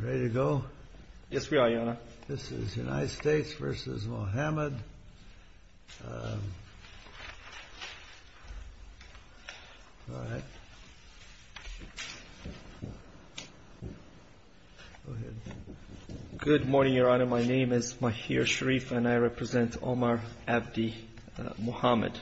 Good morning, Your Honor. My name is Mahir Sharif and I represent Omar Abdi Mohammed.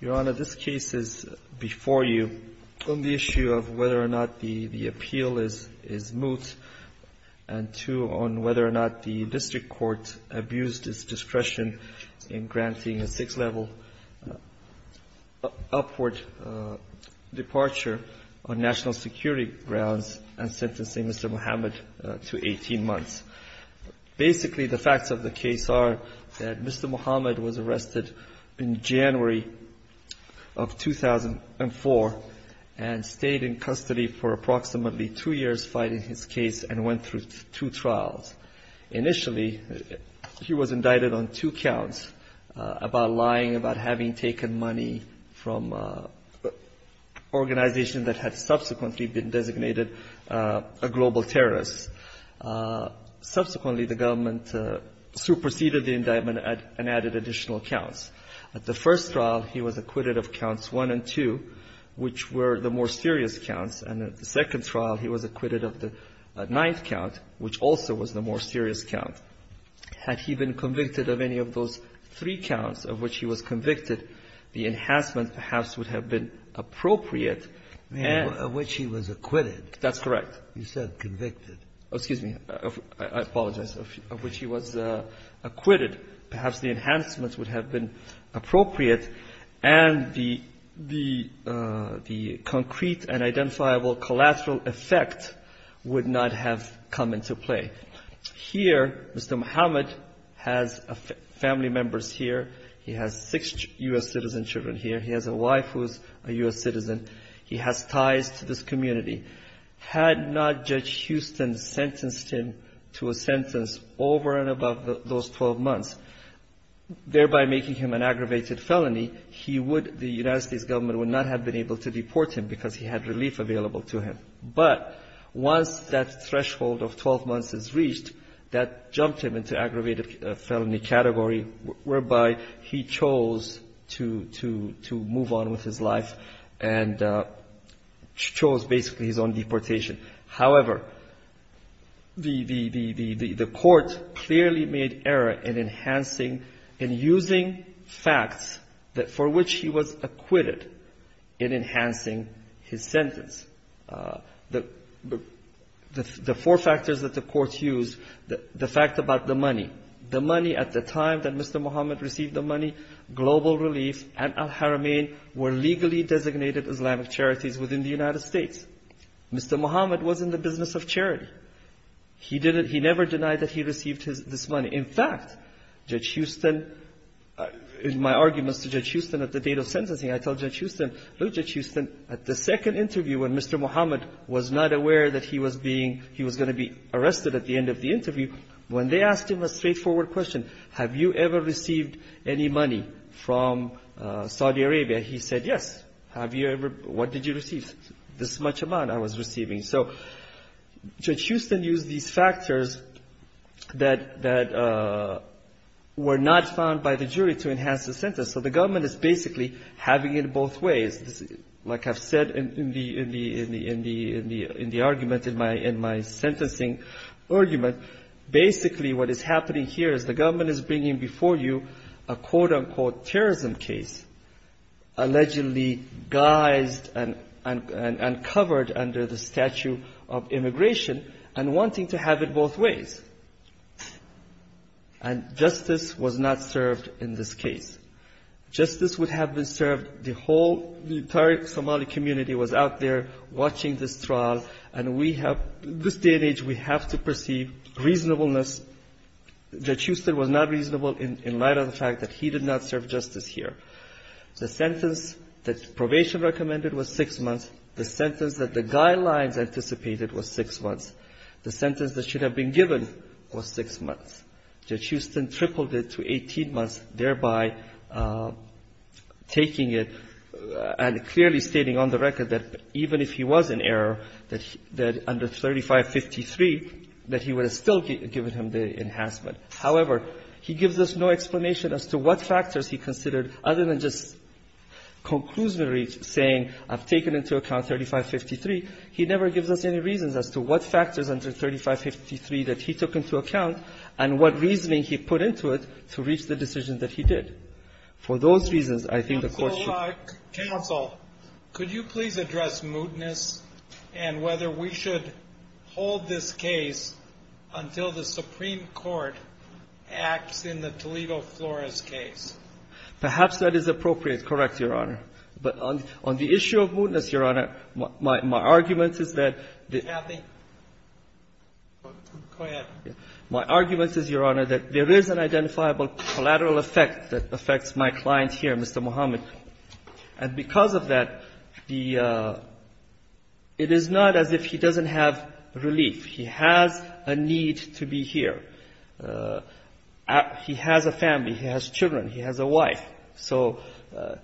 Your Honor, this case is before you on the issue of whether or not the appeal is moot and two, on whether or not the district court abused its discretion in granting a sixth-level upward departure on national security grounds and sentencing Mr. Mohammed to 18 months. Basically, the facts of the case are that Mr. Mohammed was arrested in January of 2004 and stayed in custody for approximately two years fighting his case and went through two trials. Initially, he was indicted on two counts about lying about having taken money from an organization that had subsequently been designated a global terrorist. Subsequently, the government superseded the indictment and added additional counts. At the first trial, he was acquitted of counts one and two, which were the more serious counts, and at the second trial, he was acquitted of the ninth count, which also was the more serious count. Had he been convicted of any of those three counts of which he was convicted, the enhancement perhaps would have been appropriate and — Sotomayor — of which he was acquitted. That's correct. You said convicted. Excuse me. I apologize. Of which he was acquitted. Perhaps the enhancements would have been appropriate, and the concrete and identifiable collateral effect would not have come into play. Here, Mr. Mohammed has family members here. He has six U.S. citizen children here. He has a wife who is a U.S. citizen. He has ties to this community. Had not Judge Houston sentenced him to a sentence over and above those 12 months, thereby making him an aggravated felony, he would — the United States government would not have been able to deport him because he had relief available to him. But once that threshold of 12 months is reached, that jumped him into aggravated felony category, whereby he chose to — to — to move on with his life and chose basically his own deportation. However, the — the court clearly made error in enhancing — in using facts that — for which he was acquitted in enhancing his sentence. The four factors that the court used — the fact about the money. The money at the time that Mr. Mohammed received the money, global relief, and al-Haramain were legally designated Islamic charities within the United States. Mr. Mohammed was in the business of charity. He didn't — he never denied that he received his — this money. In fact, Judge Houston — in my arguments to Judge Houston at the date of sentencing, I told Judge Houston, look, Judge Houston, at the second interview when Mr. Mohammed was not aware that he was being — he was going to be arrested at the end of the interview, when they asked him a straightforward question, have you ever received any money from Saudi Arabia? He said, yes. Have you ever — what did you receive? This much amount I was receiving. So Judge Houston used these factors that — that were not found by the jury to enhance the sentence. So the government is basically having it both ways. Like I've said in the — in the — in the — in the — in the argument in my — in my sentencing argument, basically what is happening here is the government is bringing before you a quote-unquote terrorism case, allegedly guised and — and — and covered under the statue of immigration, and wanting to have it both ways. And justice was not served in this case. Justice would have been served — the whole — the entire Somali community was out there watching this trial, and we have — this day and age, we have to perceive reasonableness because Judge Houston was not reasonable in light of the fact that he did not serve justice here. The sentence that probation recommended was six months. The sentence that the guidelines anticipated was six months. The sentence that should have been given was six months. Judge Houston tripled it to 18 months, thereby taking it and clearly stating on the record that even if he was in error, that under 3553, that he would have still given him the enhancement. However, he gives us no explanation as to what factors he considered, other than just conclusively saying, I've taken into account 3553. He never gives us any reasons as to what factors under 3553 that he took into account and what reasoning he put into it to reach the decision that he did. For those reasons, I think the Court should — Well, could you please address mootness and whether we should hold this case until the Supreme Court acts in the Toledo Flores case? Perhaps that is appropriate. Correct, Your Honor. But on the issue of mootness, Your Honor, my argument is that — Kathy? Go ahead. My argument is, Your Honor, that there is an identifiable collateral effect that affects my client here, Mr. Muhammad. And because of that, the — it is not as if he doesn't have relief. He has a need to be here. He has a family. He has children. He has a wife. So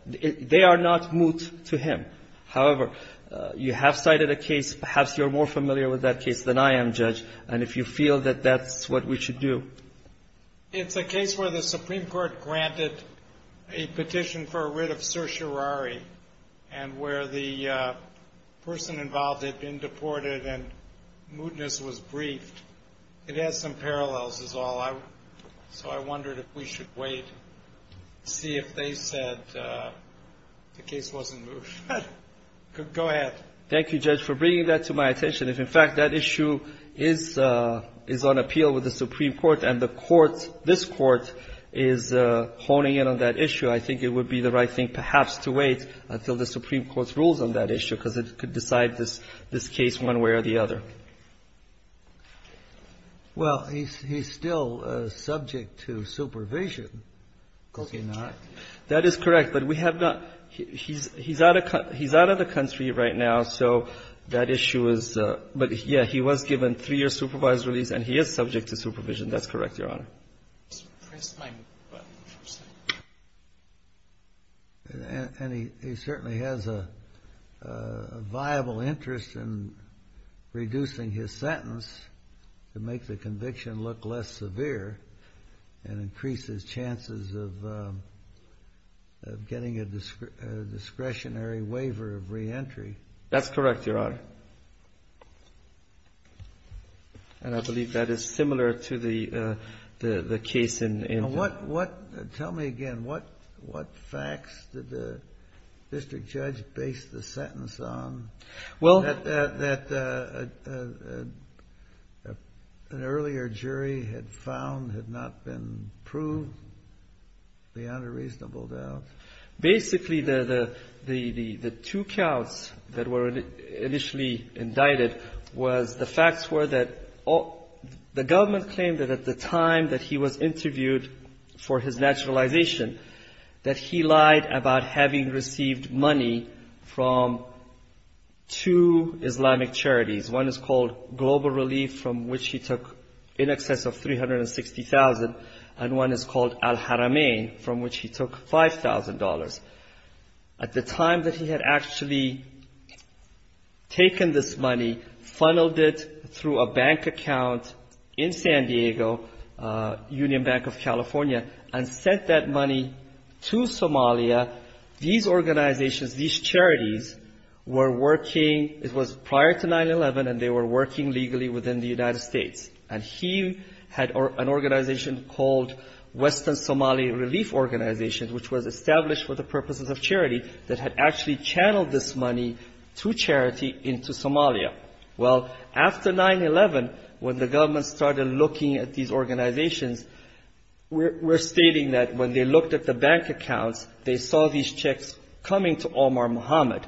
they are not moot to him. However, you have cited a case. Perhaps you're more familiar with that case than I am, Judge. And if you feel that that's what we should do — The case of Sir Shirari and where the person involved had been deported and mootness was briefed, it has some parallels is all. So I wondered if we should wait, see if they said the case wasn't moot. Go ahead. Thank you, Judge, for bringing that to my attention. If, in fact, that issue is on appeal with the Supreme Court, and the court, this court, is honing in on that issue, I think it would be the right thing perhaps to wait until the Supreme Court's rules on that issue because it could decide this case one way or the other. Well, he's still subject to supervision. That is correct. But we have not — he's out of the country right now. So that issue is — but, yeah, he was given three-year supervised release, and he is subject to supervision. That's correct, Your Honor. And he certainly has a viable interest in reducing his sentence to make the conviction look less severe and increase his chances of getting a discretionary waiver of reentry. That's correct, Your Honor. And I believe that is similar to the case in — Now, what — tell me again. What facts did the district judge base the sentence on? Well — That an earlier jury had found had not been proved? Beyond a reasonable doubt. Basically, the two counts that were initially indicted was — the facts were that the government claimed that at the time that he was interviewed for his naturalization, that he lied about having received money from two Islamic charities. One is called Global Relief, from which he took in excess of $360,000, and one is called Al-Haramain, from which he took $5,000. At the time that he had actually taken this money, funneled it through a bank account in San Diego, Union Bank of California, and sent that money to Somalia, these organizations, these charities, were working — it was prior to 9-11, and they were working legally within the United States. And he had an organization called Western Somali Relief Organization, which was established for the purposes of charity, that had actually channeled this money to charity into Somalia. Well, after 9-11, when the government started looking at these organizations, we're stating that when they looked at the bank accounts, they saw these checks coming to Omar Muhammad.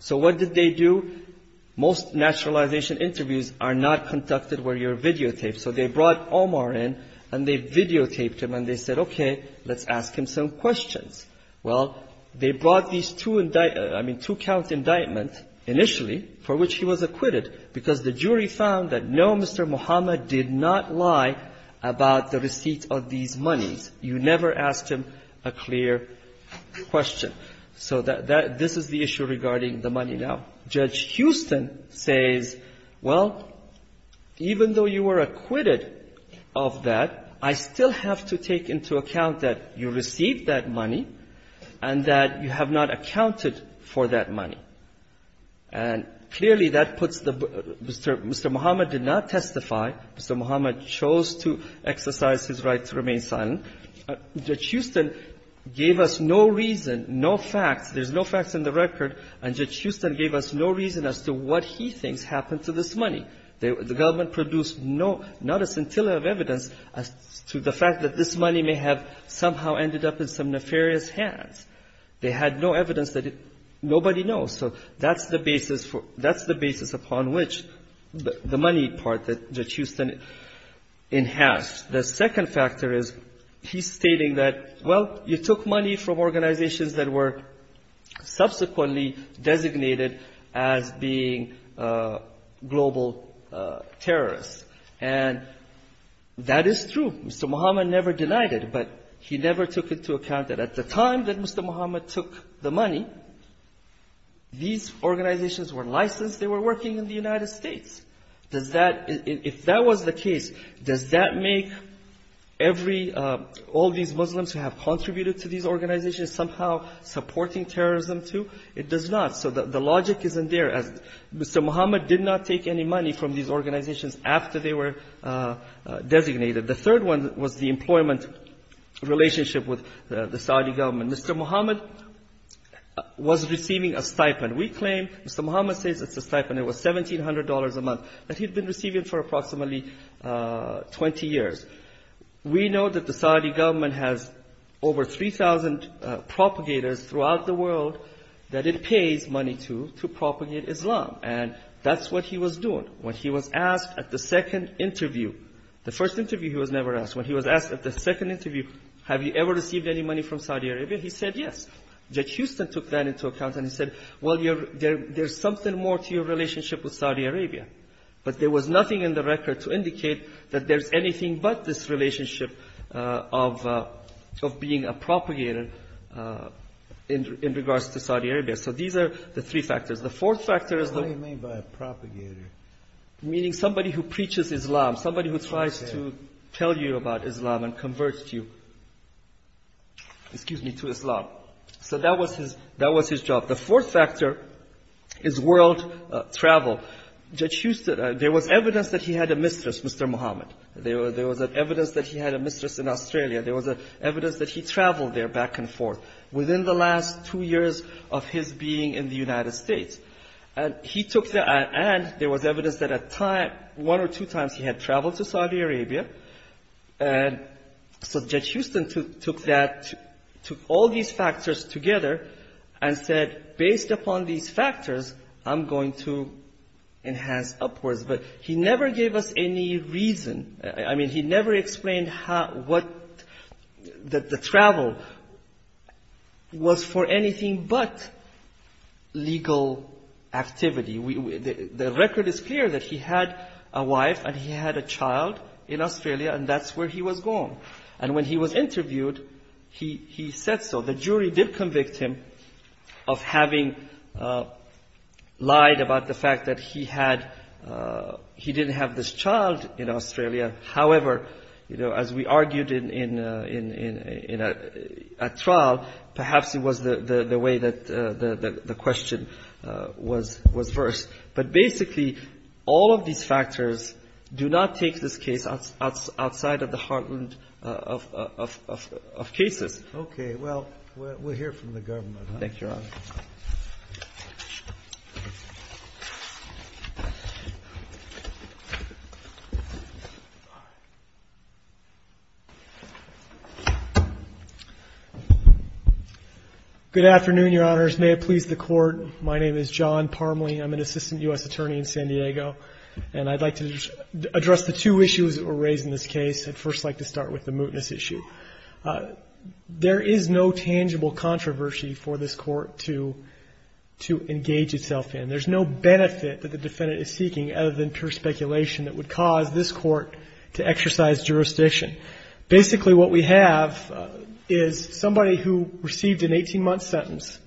So what did they do? Most naturalization interviews are not conducted where you're videotaped. So they brought Omar in, and they videotaped him, and they said, okay, let's ask him some questions. Well, they brought these two-count indictments, initially, for which he was acquitted, because the jury found that no, Mr. Muhammad did not lie about the receipt of these monies. You never asked him a clear question. So this is the issue regarding the money now. Judge Houston says, well, even though you were acquitted of that, I still have to take into account that you received that money and that you have not accounted for that money. And clearly, that puts the Mr. Muhammad did not testify. Mr. Muhammad chose to exercise his right to remain silent. Judge Houston gave us no reason, no facts. There's no facts in the record, and Judge Houston gave us no reason as to what he thinks happened to this money. The government produced not a scintilla of evidence as to the fact that this money may have somehow ended up in some nefarious hands. They had no evidence that nobody knows. So that's the basis upon which the money part that Judge Houston enhanced. The second factor is he's stating that, well, you took money from organizations that were subsequently designated as being global terrorists. And that is true. Mr. Muhammad never denied it, but he never took into account that at the time that Mr. Muhammad took the money, these organizations were licensed. They were working in the United States. If that was the case, does that make all these Muslims who have contributed to these organizations somehow supporting terrorism too? It does not. So the logic isn't there. Mr. Muhammad did not take any money from these organizations after they were designated. The third one was the employment relationship with the Saudi government. Mr. Muhammad was receiving a stipend. We claim Mr. Muhammad says it's a stipend. It was $1,700 a month that he'd been receiving for approximately 20 years. We know that the Saudi government has over 3,000 propagators throughout the world that it pays money to to propagate Islam. And that's what he was doing. When he was asked at the second interview, the first interview he was never asked, when he was asked at the second interview, have you ever received any money from Saudi Arabia? He said yes. Judge Houston took that into account and he said, well, there's something more to your relationship with Saudi Arabia. But there was nothing in the record to indicate that there's anything but this relationship of being a propagator in regards to Saudi Arabia. So these are the three factors. The fourth factor is... What do you mean by a propagator? Meaning somebody who preaches Islam, somebody who tries to tell you about Islam and converts you, excuse me, to Islam. So that was his job. The fourth factor is world travel. Judge Houston... There was evidence that he had a mistress, Mr. Muhammad. There was evidence that he had a mistress in Australia. There was evidence that he traveled there back and forth within the last two years of his being in the United States. And he took the... And there was evidence that at a time, one or two times he had traveled to Saudi Arabia. And so Judge Houston took that, took all these factors together and said, based upon these factors, I'm going to enhance upwards. But he never gave us any reason. I mean, he never explained how, what the travel was for anything but legal activity. The record is clear that he had a wife and he had a child in Australia and that's where he was going. And when he was interviewed, he said so. The jury did convict him of having lied about the fact that he didn't have this child in Australia. However, as we argued in a trial, perhaps it was the way that the question was versed. But basically, all of these factors do not take this case outside of the heartland of cases. Okay. Well, we'll hear from the government. Thank you, Your Honor. Good afternoon, Your Honors. May it please the Court. My name is John Parmley. I'm an assistant U.S. attorney in San Diego. And I'd like to address the two issues that were raised in this case. I'd first like to start with the mootness issue. There is no tangible controversy for this court to engage itself in. There's no benefit that the defendant is seeking other than pure speculation that would cause this court to exercise jurisdiction. Basically, what we have is somebody who received an 18-month sentence.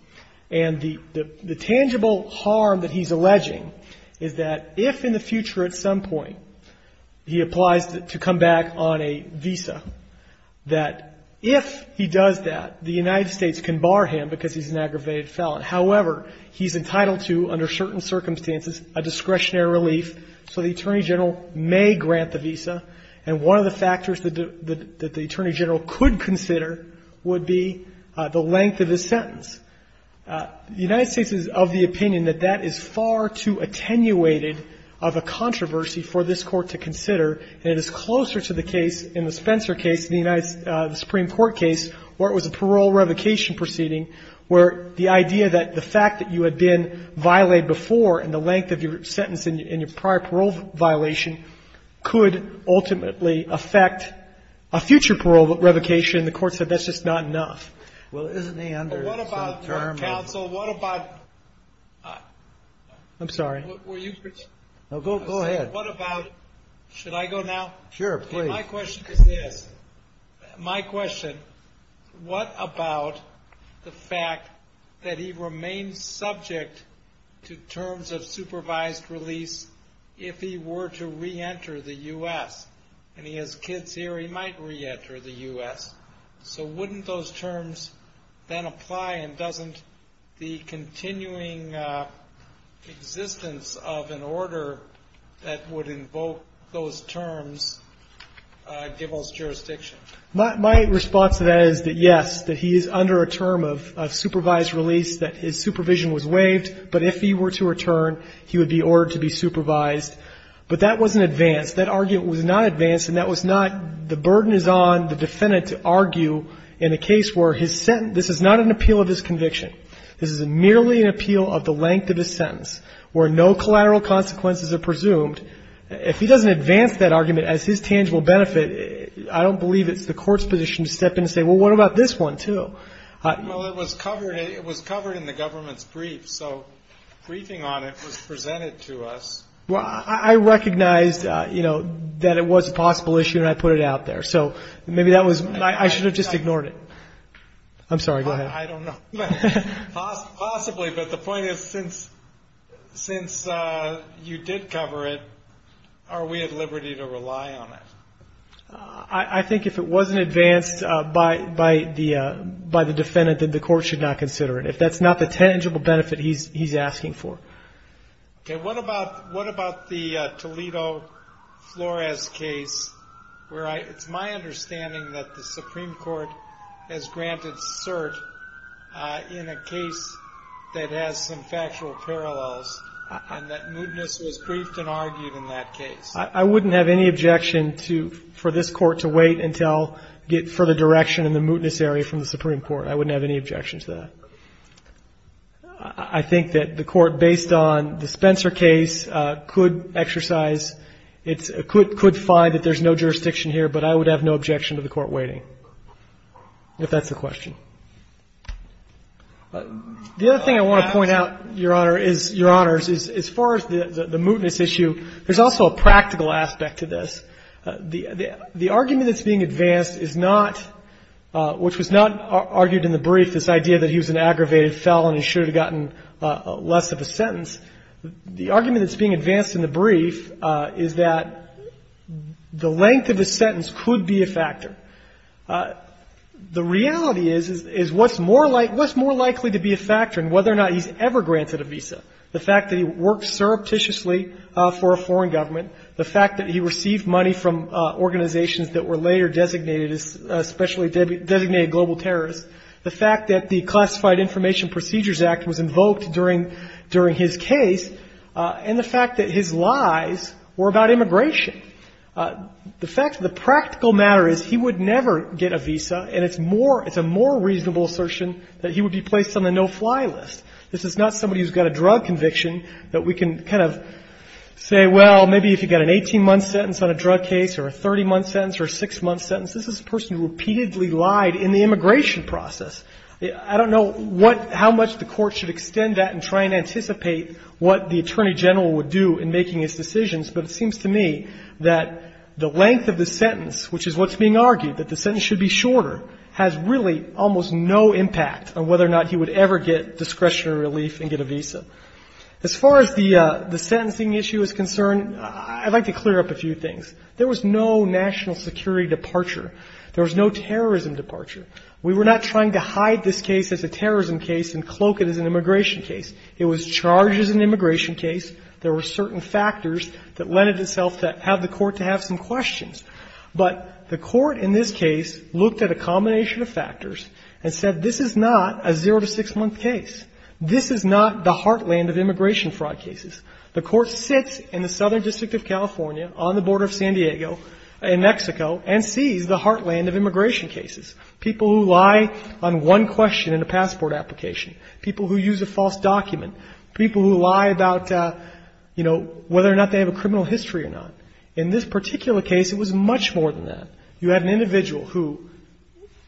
And the tangible harm that he's alleging is that if in the future at some point, he applies to come back on a visa, that if he does that, the United States can bar him because he's an aggravated felon. However, he's entitled to, under certain circumstances, a discretionary relief. So the Attorney General may grant the visa. And one of the factors that the Attorney General could consider would be the length of his sentence. The United States is of the opinion that that is far too attenuated of a controversy for this court to consider. And it is closer to the case in the Spencer case, the Supreme Court case, where it was a parole revocation proceeding, where the idea that the fact that you had been violated before and the length of your sentence in your prior parole violation could ultimately affect a future parole revocation. The court said that's just not enough. Well, isn't he under some term? What about, counsel, what about... I'm sorry. Were you... No, go ahead. What about... Should I go now? Sure, please. My question is this. My question, what about the fact that he remains subject to terms of supervised release if he were to re-enter the U.S.? And he has kids here. He might re-enter the U.S. So wouldn't those terms then apply and doesn't the continuing existence of an order that would invoke those terms give us jurisdiction? My response to that is that, yes, that he is under a term of supervised release, that his supervision was waived. But if he were to return, he would be ordered to be supervised. But that wasn't advanced. That argument was not advanced, and that was not the burden is on the defendant to argue in a case where his sentence... This is not an appeal of his conviction. This is merely an appeal of the length of his sentence where no collateral consequences are presumed. If he doesn't advance that argument as his tangible benefit, I don't believe it's the court's position to step in and say, well, what about this one too? Well, it was covered in the government's brief, so briefing on it was presented to us. Well, I recognized, you know, that it was a possible issue and I put it out there. So maybe that was... I should have just ignored it. I'm sorry, go ahead. I don't know. Possibly, but the point is, since you did cover it, are we at liberty to rely on it? I think if it wasn't advanced by the defendant, then the court should not consider it. If that's not the tangible benefit he's asking for. Okay, what about the Toledo Flores case, where it's my understanding that the Supreme Court has granted cert in a case that has some factual parallels and that mootness was briefed and argued in that case. I wouldn't have any objection for this court to wait until further direction in the mootness area from the Supreme Court. I wouldn't have any objection to that. I think that the court, based on the Spencer case, could exercise... could find that there's no jurisdiction here, but I would have no objection to the court waiting, if that's the question. The other thing I want to point out, Your Honor, is as far as the mootness issue, there's also a practical aspect to this. The argument that's being advanced is not... which was not argued in the brief, this idea that he was an aggravated felon and should have gotten less of a sentence. The argument that's being advanced in the brief is that the length of a sentence could be a factor. The reality is, is what's more likely to be a factor in whether or not he's ever granted a visa? The fact that he worked surreptitiously for a foreign government, the fact that he received money from organizations that were later designated as... designated global terrorists, the fact that the Classified Information Procedures Act was invoked during his case, and the fact that his lies were about immigration. The fact of the practical matter is, he would never get a visa, and it's a more reasonable assertion that he would be placed on the no-fly list. This is not somebody who's got a drug conviction, that we can kind of say, well, maybe if you've got an 18-month sentence on a drug case or a 30-month sentence or a 6-month sentence, this is a person who repeatedly lied in the immigration process. I don't know how much the court should extend that and try and anticipate what the attorney general would do in making his decisions, but it seems to me that the length of the sentence, which is what's being argued, that the sentence should be shorter, has really almost no impact on whether or not he would ever get discretionary relief and get a visa. As far as the sentencing issue is concerned, I'd like to clear up a few things. There was no national security departure. There was no terrorism departure. We were not trying to hide this case as a terrorism case and cloak it as an immigration case. It was charged as an immigration case. There were certain factors that lent itself to have the court to have some questions. But the court in this case looked at a combination of factors and said, this is not a zero-to-six-month case. This is not the heartland of immigration fraud cases. The court sits in the Southern District of California, on the border of San Diego, in Mexico, and sees the heartland of immigration cases, people who lie on one question in a passport application, people who use a false document, people who lie about, you know, whether or not they have a criminal history or not. In this particular case, it was much more than that. You had an individual who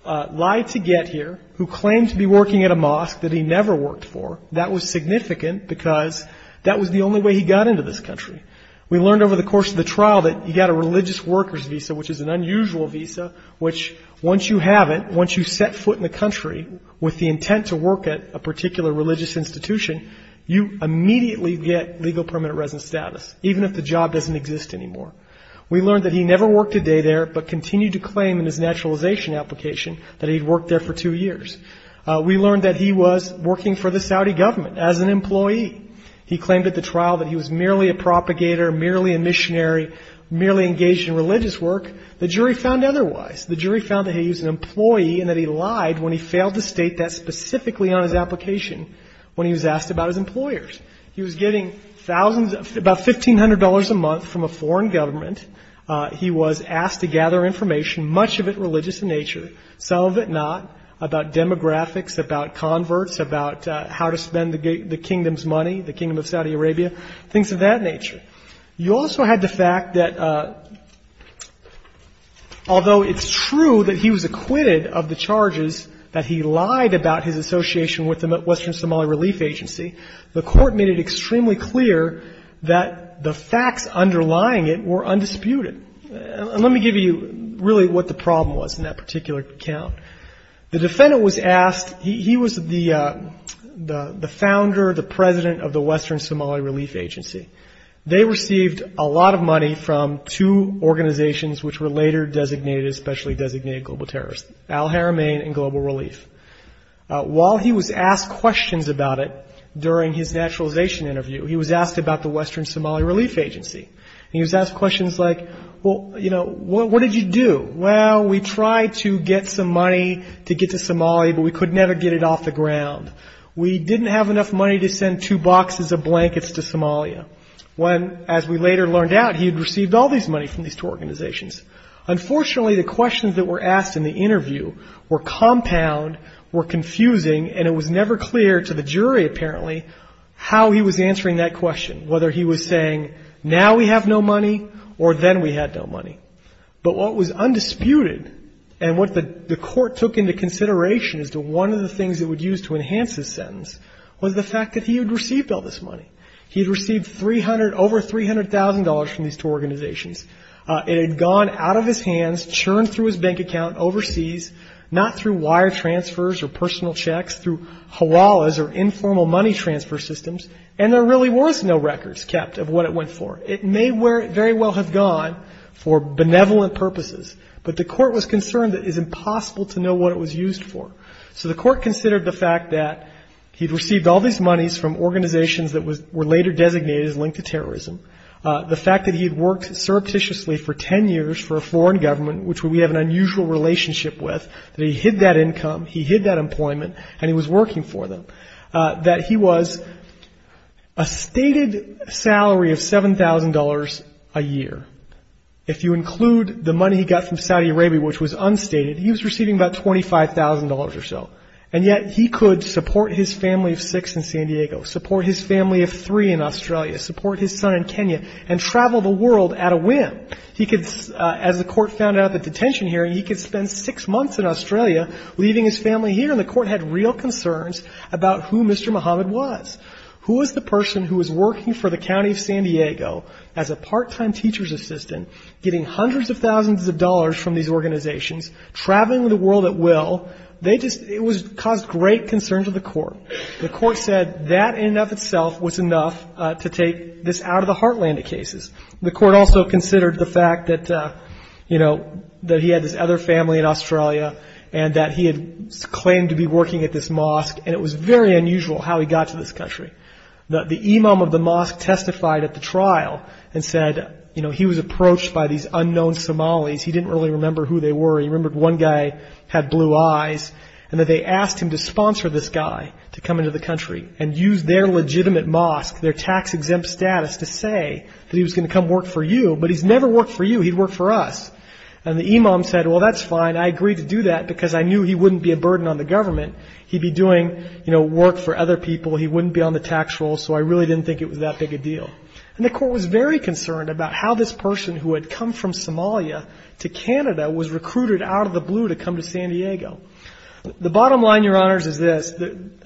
lied to get here, who claimed to be working at a mosque that he never worked for. That was significant because that was the only way he got into this country. We learned over the course of the trial that he got a religious worker's visa, which is an unusual visa, which, once you have it, once you set foot in the country with the intent to work at a particular religious institution, you immediately get legal permanent residence status, even if the job doesn't exist anymore. We learned that he never worked a day there, but continued to claim in his naturalization application that he'd worked there for two years. We learned that he was working for the Saudi government as an employee. He claimed at the trial that he was merely a propagator, merely a missionary, merely engaged in religious work. The jury found otherwise. The jury found that he was an employee and that he lied when he failed to state that specifically on his application when he was asked about his employers. He was getting about $1,500 a month from a foreign government. He was asked to gather information, much of it religious in nature, some of it not, about demographics, about converts, about how to spend the kingdom's money, the kingdom of Saudi Arabia, things of that nature. You also had the fact that although it's true that he was acquitted of the charges that he lied about his association with the Western Somali Relief Agency, the court made it extremely clear that the facts underlying it were undisputed. And let me give you really what the problem was in that particular account. The defendant was asked, he was the founder, the president of the Western Somali Relief Agency. They received a lot of money from two organizations which were later designated, especially designated global terrorists, Al Haramain and Global Relief. While he was asked questions about it during his naturalization interview, he was asked about the Western Somali Relief Agency. He was asked questions like, well, you know, what did you do? Well, we tried to get some money to get to Somalia, but we could never get it off the ground. We didn't have enough money to send two boxes of blankets to Somalia. When, as we later learned out, he had received all this money from these two organizations. Unfortunately, the questions that were asked in the interview were compound, were confusing, and it was never clear to the jury, apparently, how he was answering that question, whether he was saying, now we have no money, or then we had no money. But what was undisputed and what the court took into consideration as to one of the things it would use to enhance his sentence was the fact that he had received all this money. He had received over $300,000 from these two organizations. It had gone out of his hands, churned through his bank account overseas, not through wire transfers or personal checks, through hawalas or informal money transfer systems, and there really was no records kept of what it went for. It may very well have gone for benevolent purposes, but the court was concerned that it is impossible to know what it was used for. So the court considered the fact that he had received all these monies from organizations that were later designated as linked to terrorism, the fact that he had worked surreptitiously for 10 years for a foreign government, which we have an unusual relationship with, that he hid that income, he hid that employment, and he was working for them, that he was a stated salary of $7,000 a year. If you include the money he got from Saudi Arabia, which was unstated, he was receiving about $25,000 or so. And yet he could support his family of six in San Diego, support his family of three in Australia, support his son in Kenya, and travel the world at a whim. As the court found out at the detention hearing, he could spend six months in Australia leaving his family here, and the court had real concerns about who Mr. Mohammed was. Who was the person who was working for the county of San Diego as a part-time teacher's assistant getting hundreds of thousands of dollars from these organizations, traveling the world at will? It caused great concern to the court. The court said that in and of itself was enough to take this out of the heartland of cases. The court also considered the fact that he had this other family in Australia, and that he had claimed to be working at this mosque, and it was very unusual how he got to this country. The imam of the mosque testified at the trial and said he was approached by these unknown Somalis, he didn't really remember who they were, he remembered one guy had blue eyes, and that they asked him to sponsor this guy to come into the country and use their legitimate mosque, their tax-exempt status, to say that he was going to come work for you, but he's never worked for you, he worked for us. And the imam said, well that's fine, I agreed to do that because I knew he wouldn't be a burden on the government, he'd be doing work for other people, he wouldn't be on the tax roll, so I really didn't think it was that big a deal. And the court was very concerned about how this person who had come from Somalia to Canada was recruited out of the blue to come to San Diego. The bottom line, Your Honors, is this,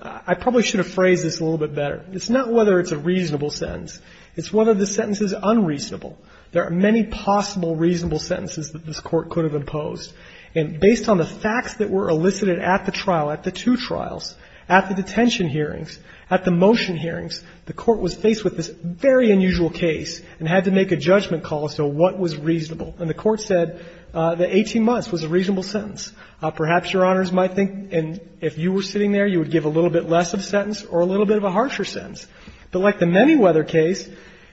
I probably should have phrased this a little bit better, it's not whether it's a reasonable sentence, it's whether the sentence is unreasonable. There are many possible reasonable sentences that this court could have imposed, and based on the facts that were elicited at the trial, at the two trials, at the detention hearings, at the motion hearings, the court was faced with this very unusual case and had to make a judgment call as to what was reasonable. And the court said that 18 months was a reasonable sentence. Perhaps Your Honors might think, and if you were sitting there, you would give a little bit less of a sentence or a little bit of a harsher sentence. But like the Manyweather case,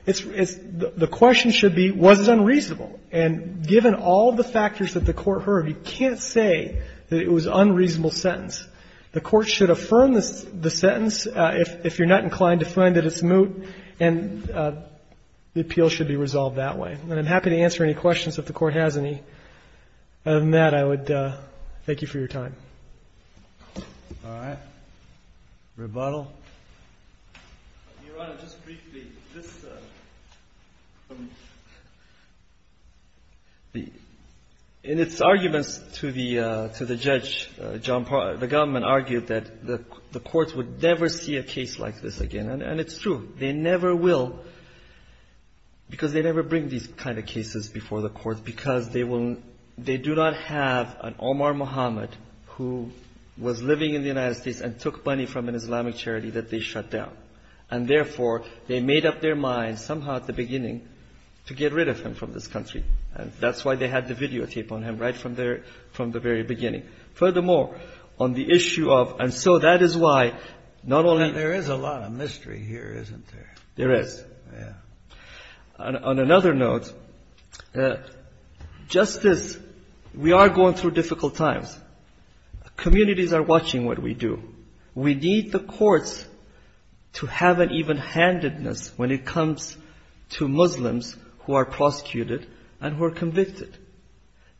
the question should be, was it unreasonable? And given all the factors that the court heard, you can't say that it was an unreasonable sentence. The court should affirm the sentence if you're not inclined to find that it's moot, and the appeal should be resolved that way. And I'm happy to answer any questions if the court has any. Other than that, I would thank you for your time. All right. Rebuttal? Your Honor, just briefly, this, in its arguments to the judge, the government argued that the courts would never see a case like this again. And it's true. They never will because they never bring these kind of cases before the courts because they do not have an Omar Muhammad who was living in the United States and took money from an Islamic charity that they shut down. And therefore, they made up their minds somehow at the beginning to get rid of him from this country. And that's why they had the videotape on him right from the very beginning. Furthermore, on the issue of and so that is why not only There is a lot of mystery here, isn't there? There is. On another note, justice, we are going through difficult times. Communities are watching what we do. We need the courts to have an even-handedness when it comes to Muslims who are prosecuted and who are convicted.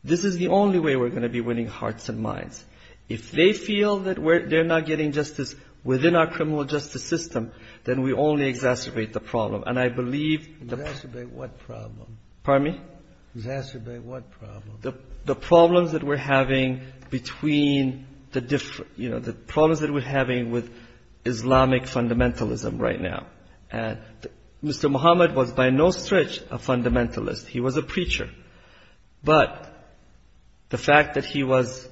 This is the only way we're going to be winning hearts and minds. If they feel that they're not getting justice within our criminal justice system, then we only exacerbate the problem. And I believe Exacerbate what problem? The problems that we're having between the problems that we're having with Islamic fundamentalism right now. Mr. Muhammad was by no stretch a fundamentalist. He was a preacher. But the fact that he was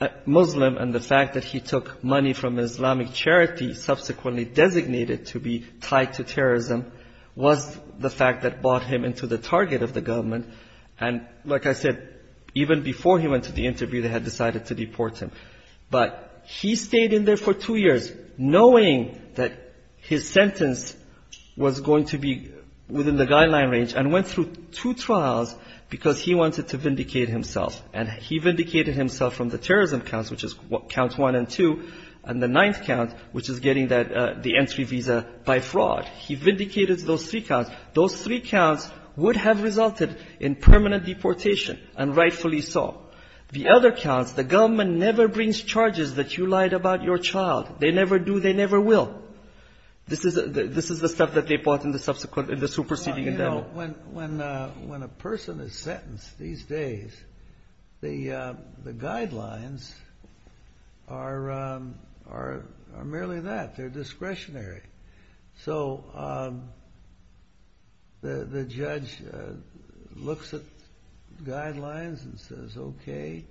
a Muslim and the fact that he took money from Islamic charity subsequently designated to be tied to terrorism was the fact that brought him into the target of the government. And like I said, even before he went to the interview, they had decided to deport him. But he stayed in there for two years knowing that his sentence was going to be within the guideline range and went through two trials because he wanted to vindicate himself. And he vindicated himself from the terrorism counts, which is count one and two, and the ninth count, which is getting the entry visa by fraud. He vindicated those three counts. Those three counts would have resulted in permanent deportation, and rightfully so. The other counts, the government never brings charges that you lied about your child. They never do, they never will. This is the stuff that they brought in the superseding endowment. When a person is sentenced these days, the guidelines are merely that. They're discretionary. So the judge looks at guidelines and says, OK.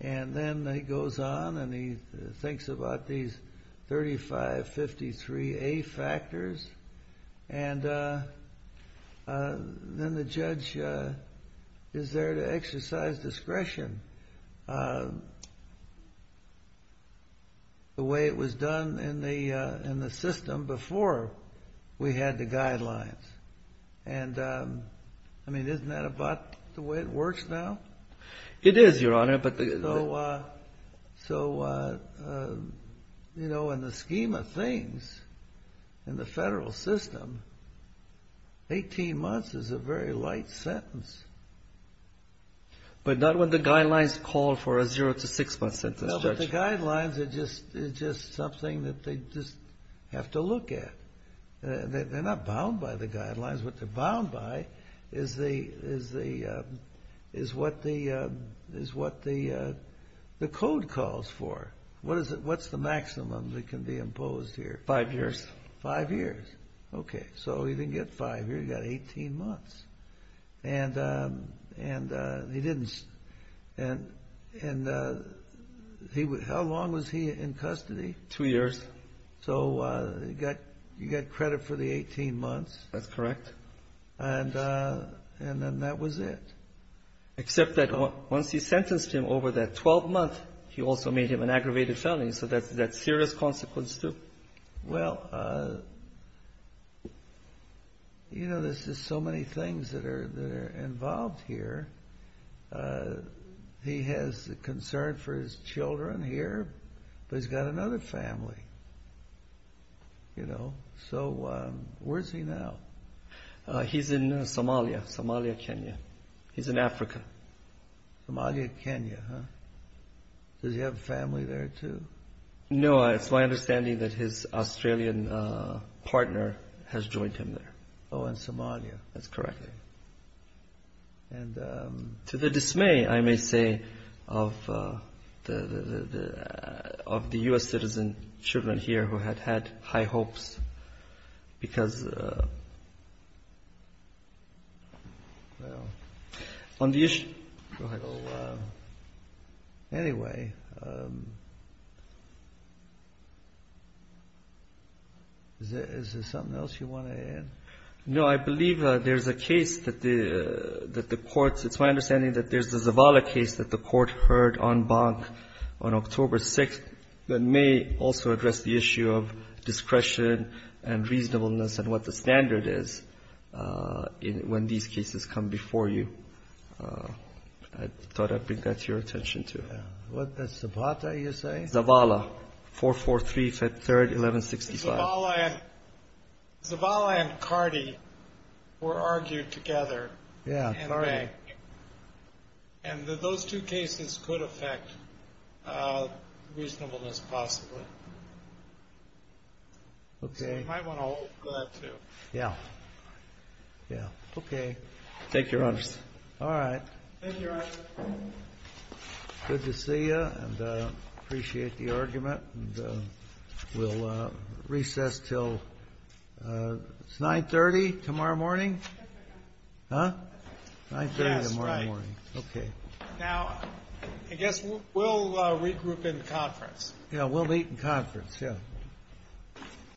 And then he goes on and he thinks about these 3553A factors. And then the judge is there to exercise discretion the way it was done in the system before we had the guidelines. And I mean, isn't that about the way it works now? It is, Your Honor. So you know, in the scheme of things in the federal system, 18 months is a very light sentence. But not when the guidelines call for a zero to six month sentence, Judge. No, but the guidelines are just something that they just have to look at. They're not bound by the guidelines. What they're bound by is what the code calls for. What's the maximum that can be imposed here? Five years. OK. So he didn't get five years, he got 18 months. And he didn't and and how long was he in custody? Two years. So you got credit for the 18 months. That's correct. And then that was it. Except that once he sentenced him over that 12 months, he also made him an aggravated felony. So that's a serious consequence too. Well, you know, there's just so many things that are involved here. He has concern for his children here, but he's got another family. So where's he now? He's in Somalia. Somalia, Kenya. He's in Africa. Somalia, Kenya, huh? Does he have a family there too? No, it's my understanding that his Australian partner has joined him there. Oh, in Somalia. That's correct. And to the dismay, I may say, of the U.S. citizen children here who had had high hopes because on the issue of anyway Is there something else you want to add? No, I believe there's a case that the Court it's my understanding that there's a Zavala case that the Court heard on Bank on October 6th that may also address the issue of discretion and reasonableness and what the standard is when these cases come before you. I thought I'd bring that to your attention too. What, that's Zavala, you say? Zavala. 443, Feb. 3, 1165. Zavala and Zavala and Cardi were argued together in Bank and those two cases could affect reasonableness possibly. Okay. You might want to hold that too. Yeah, okay. Thank you, Your Honor. Thank you, Your Honor. Good to see you and appreciate the argument and we'll recess till 9.30 tomorrow morning? 9.30 tomorrow morning. 9.30 tomorrow morning. Now, I guess we'll regroup in conference. Yeah, we'll meet in conference.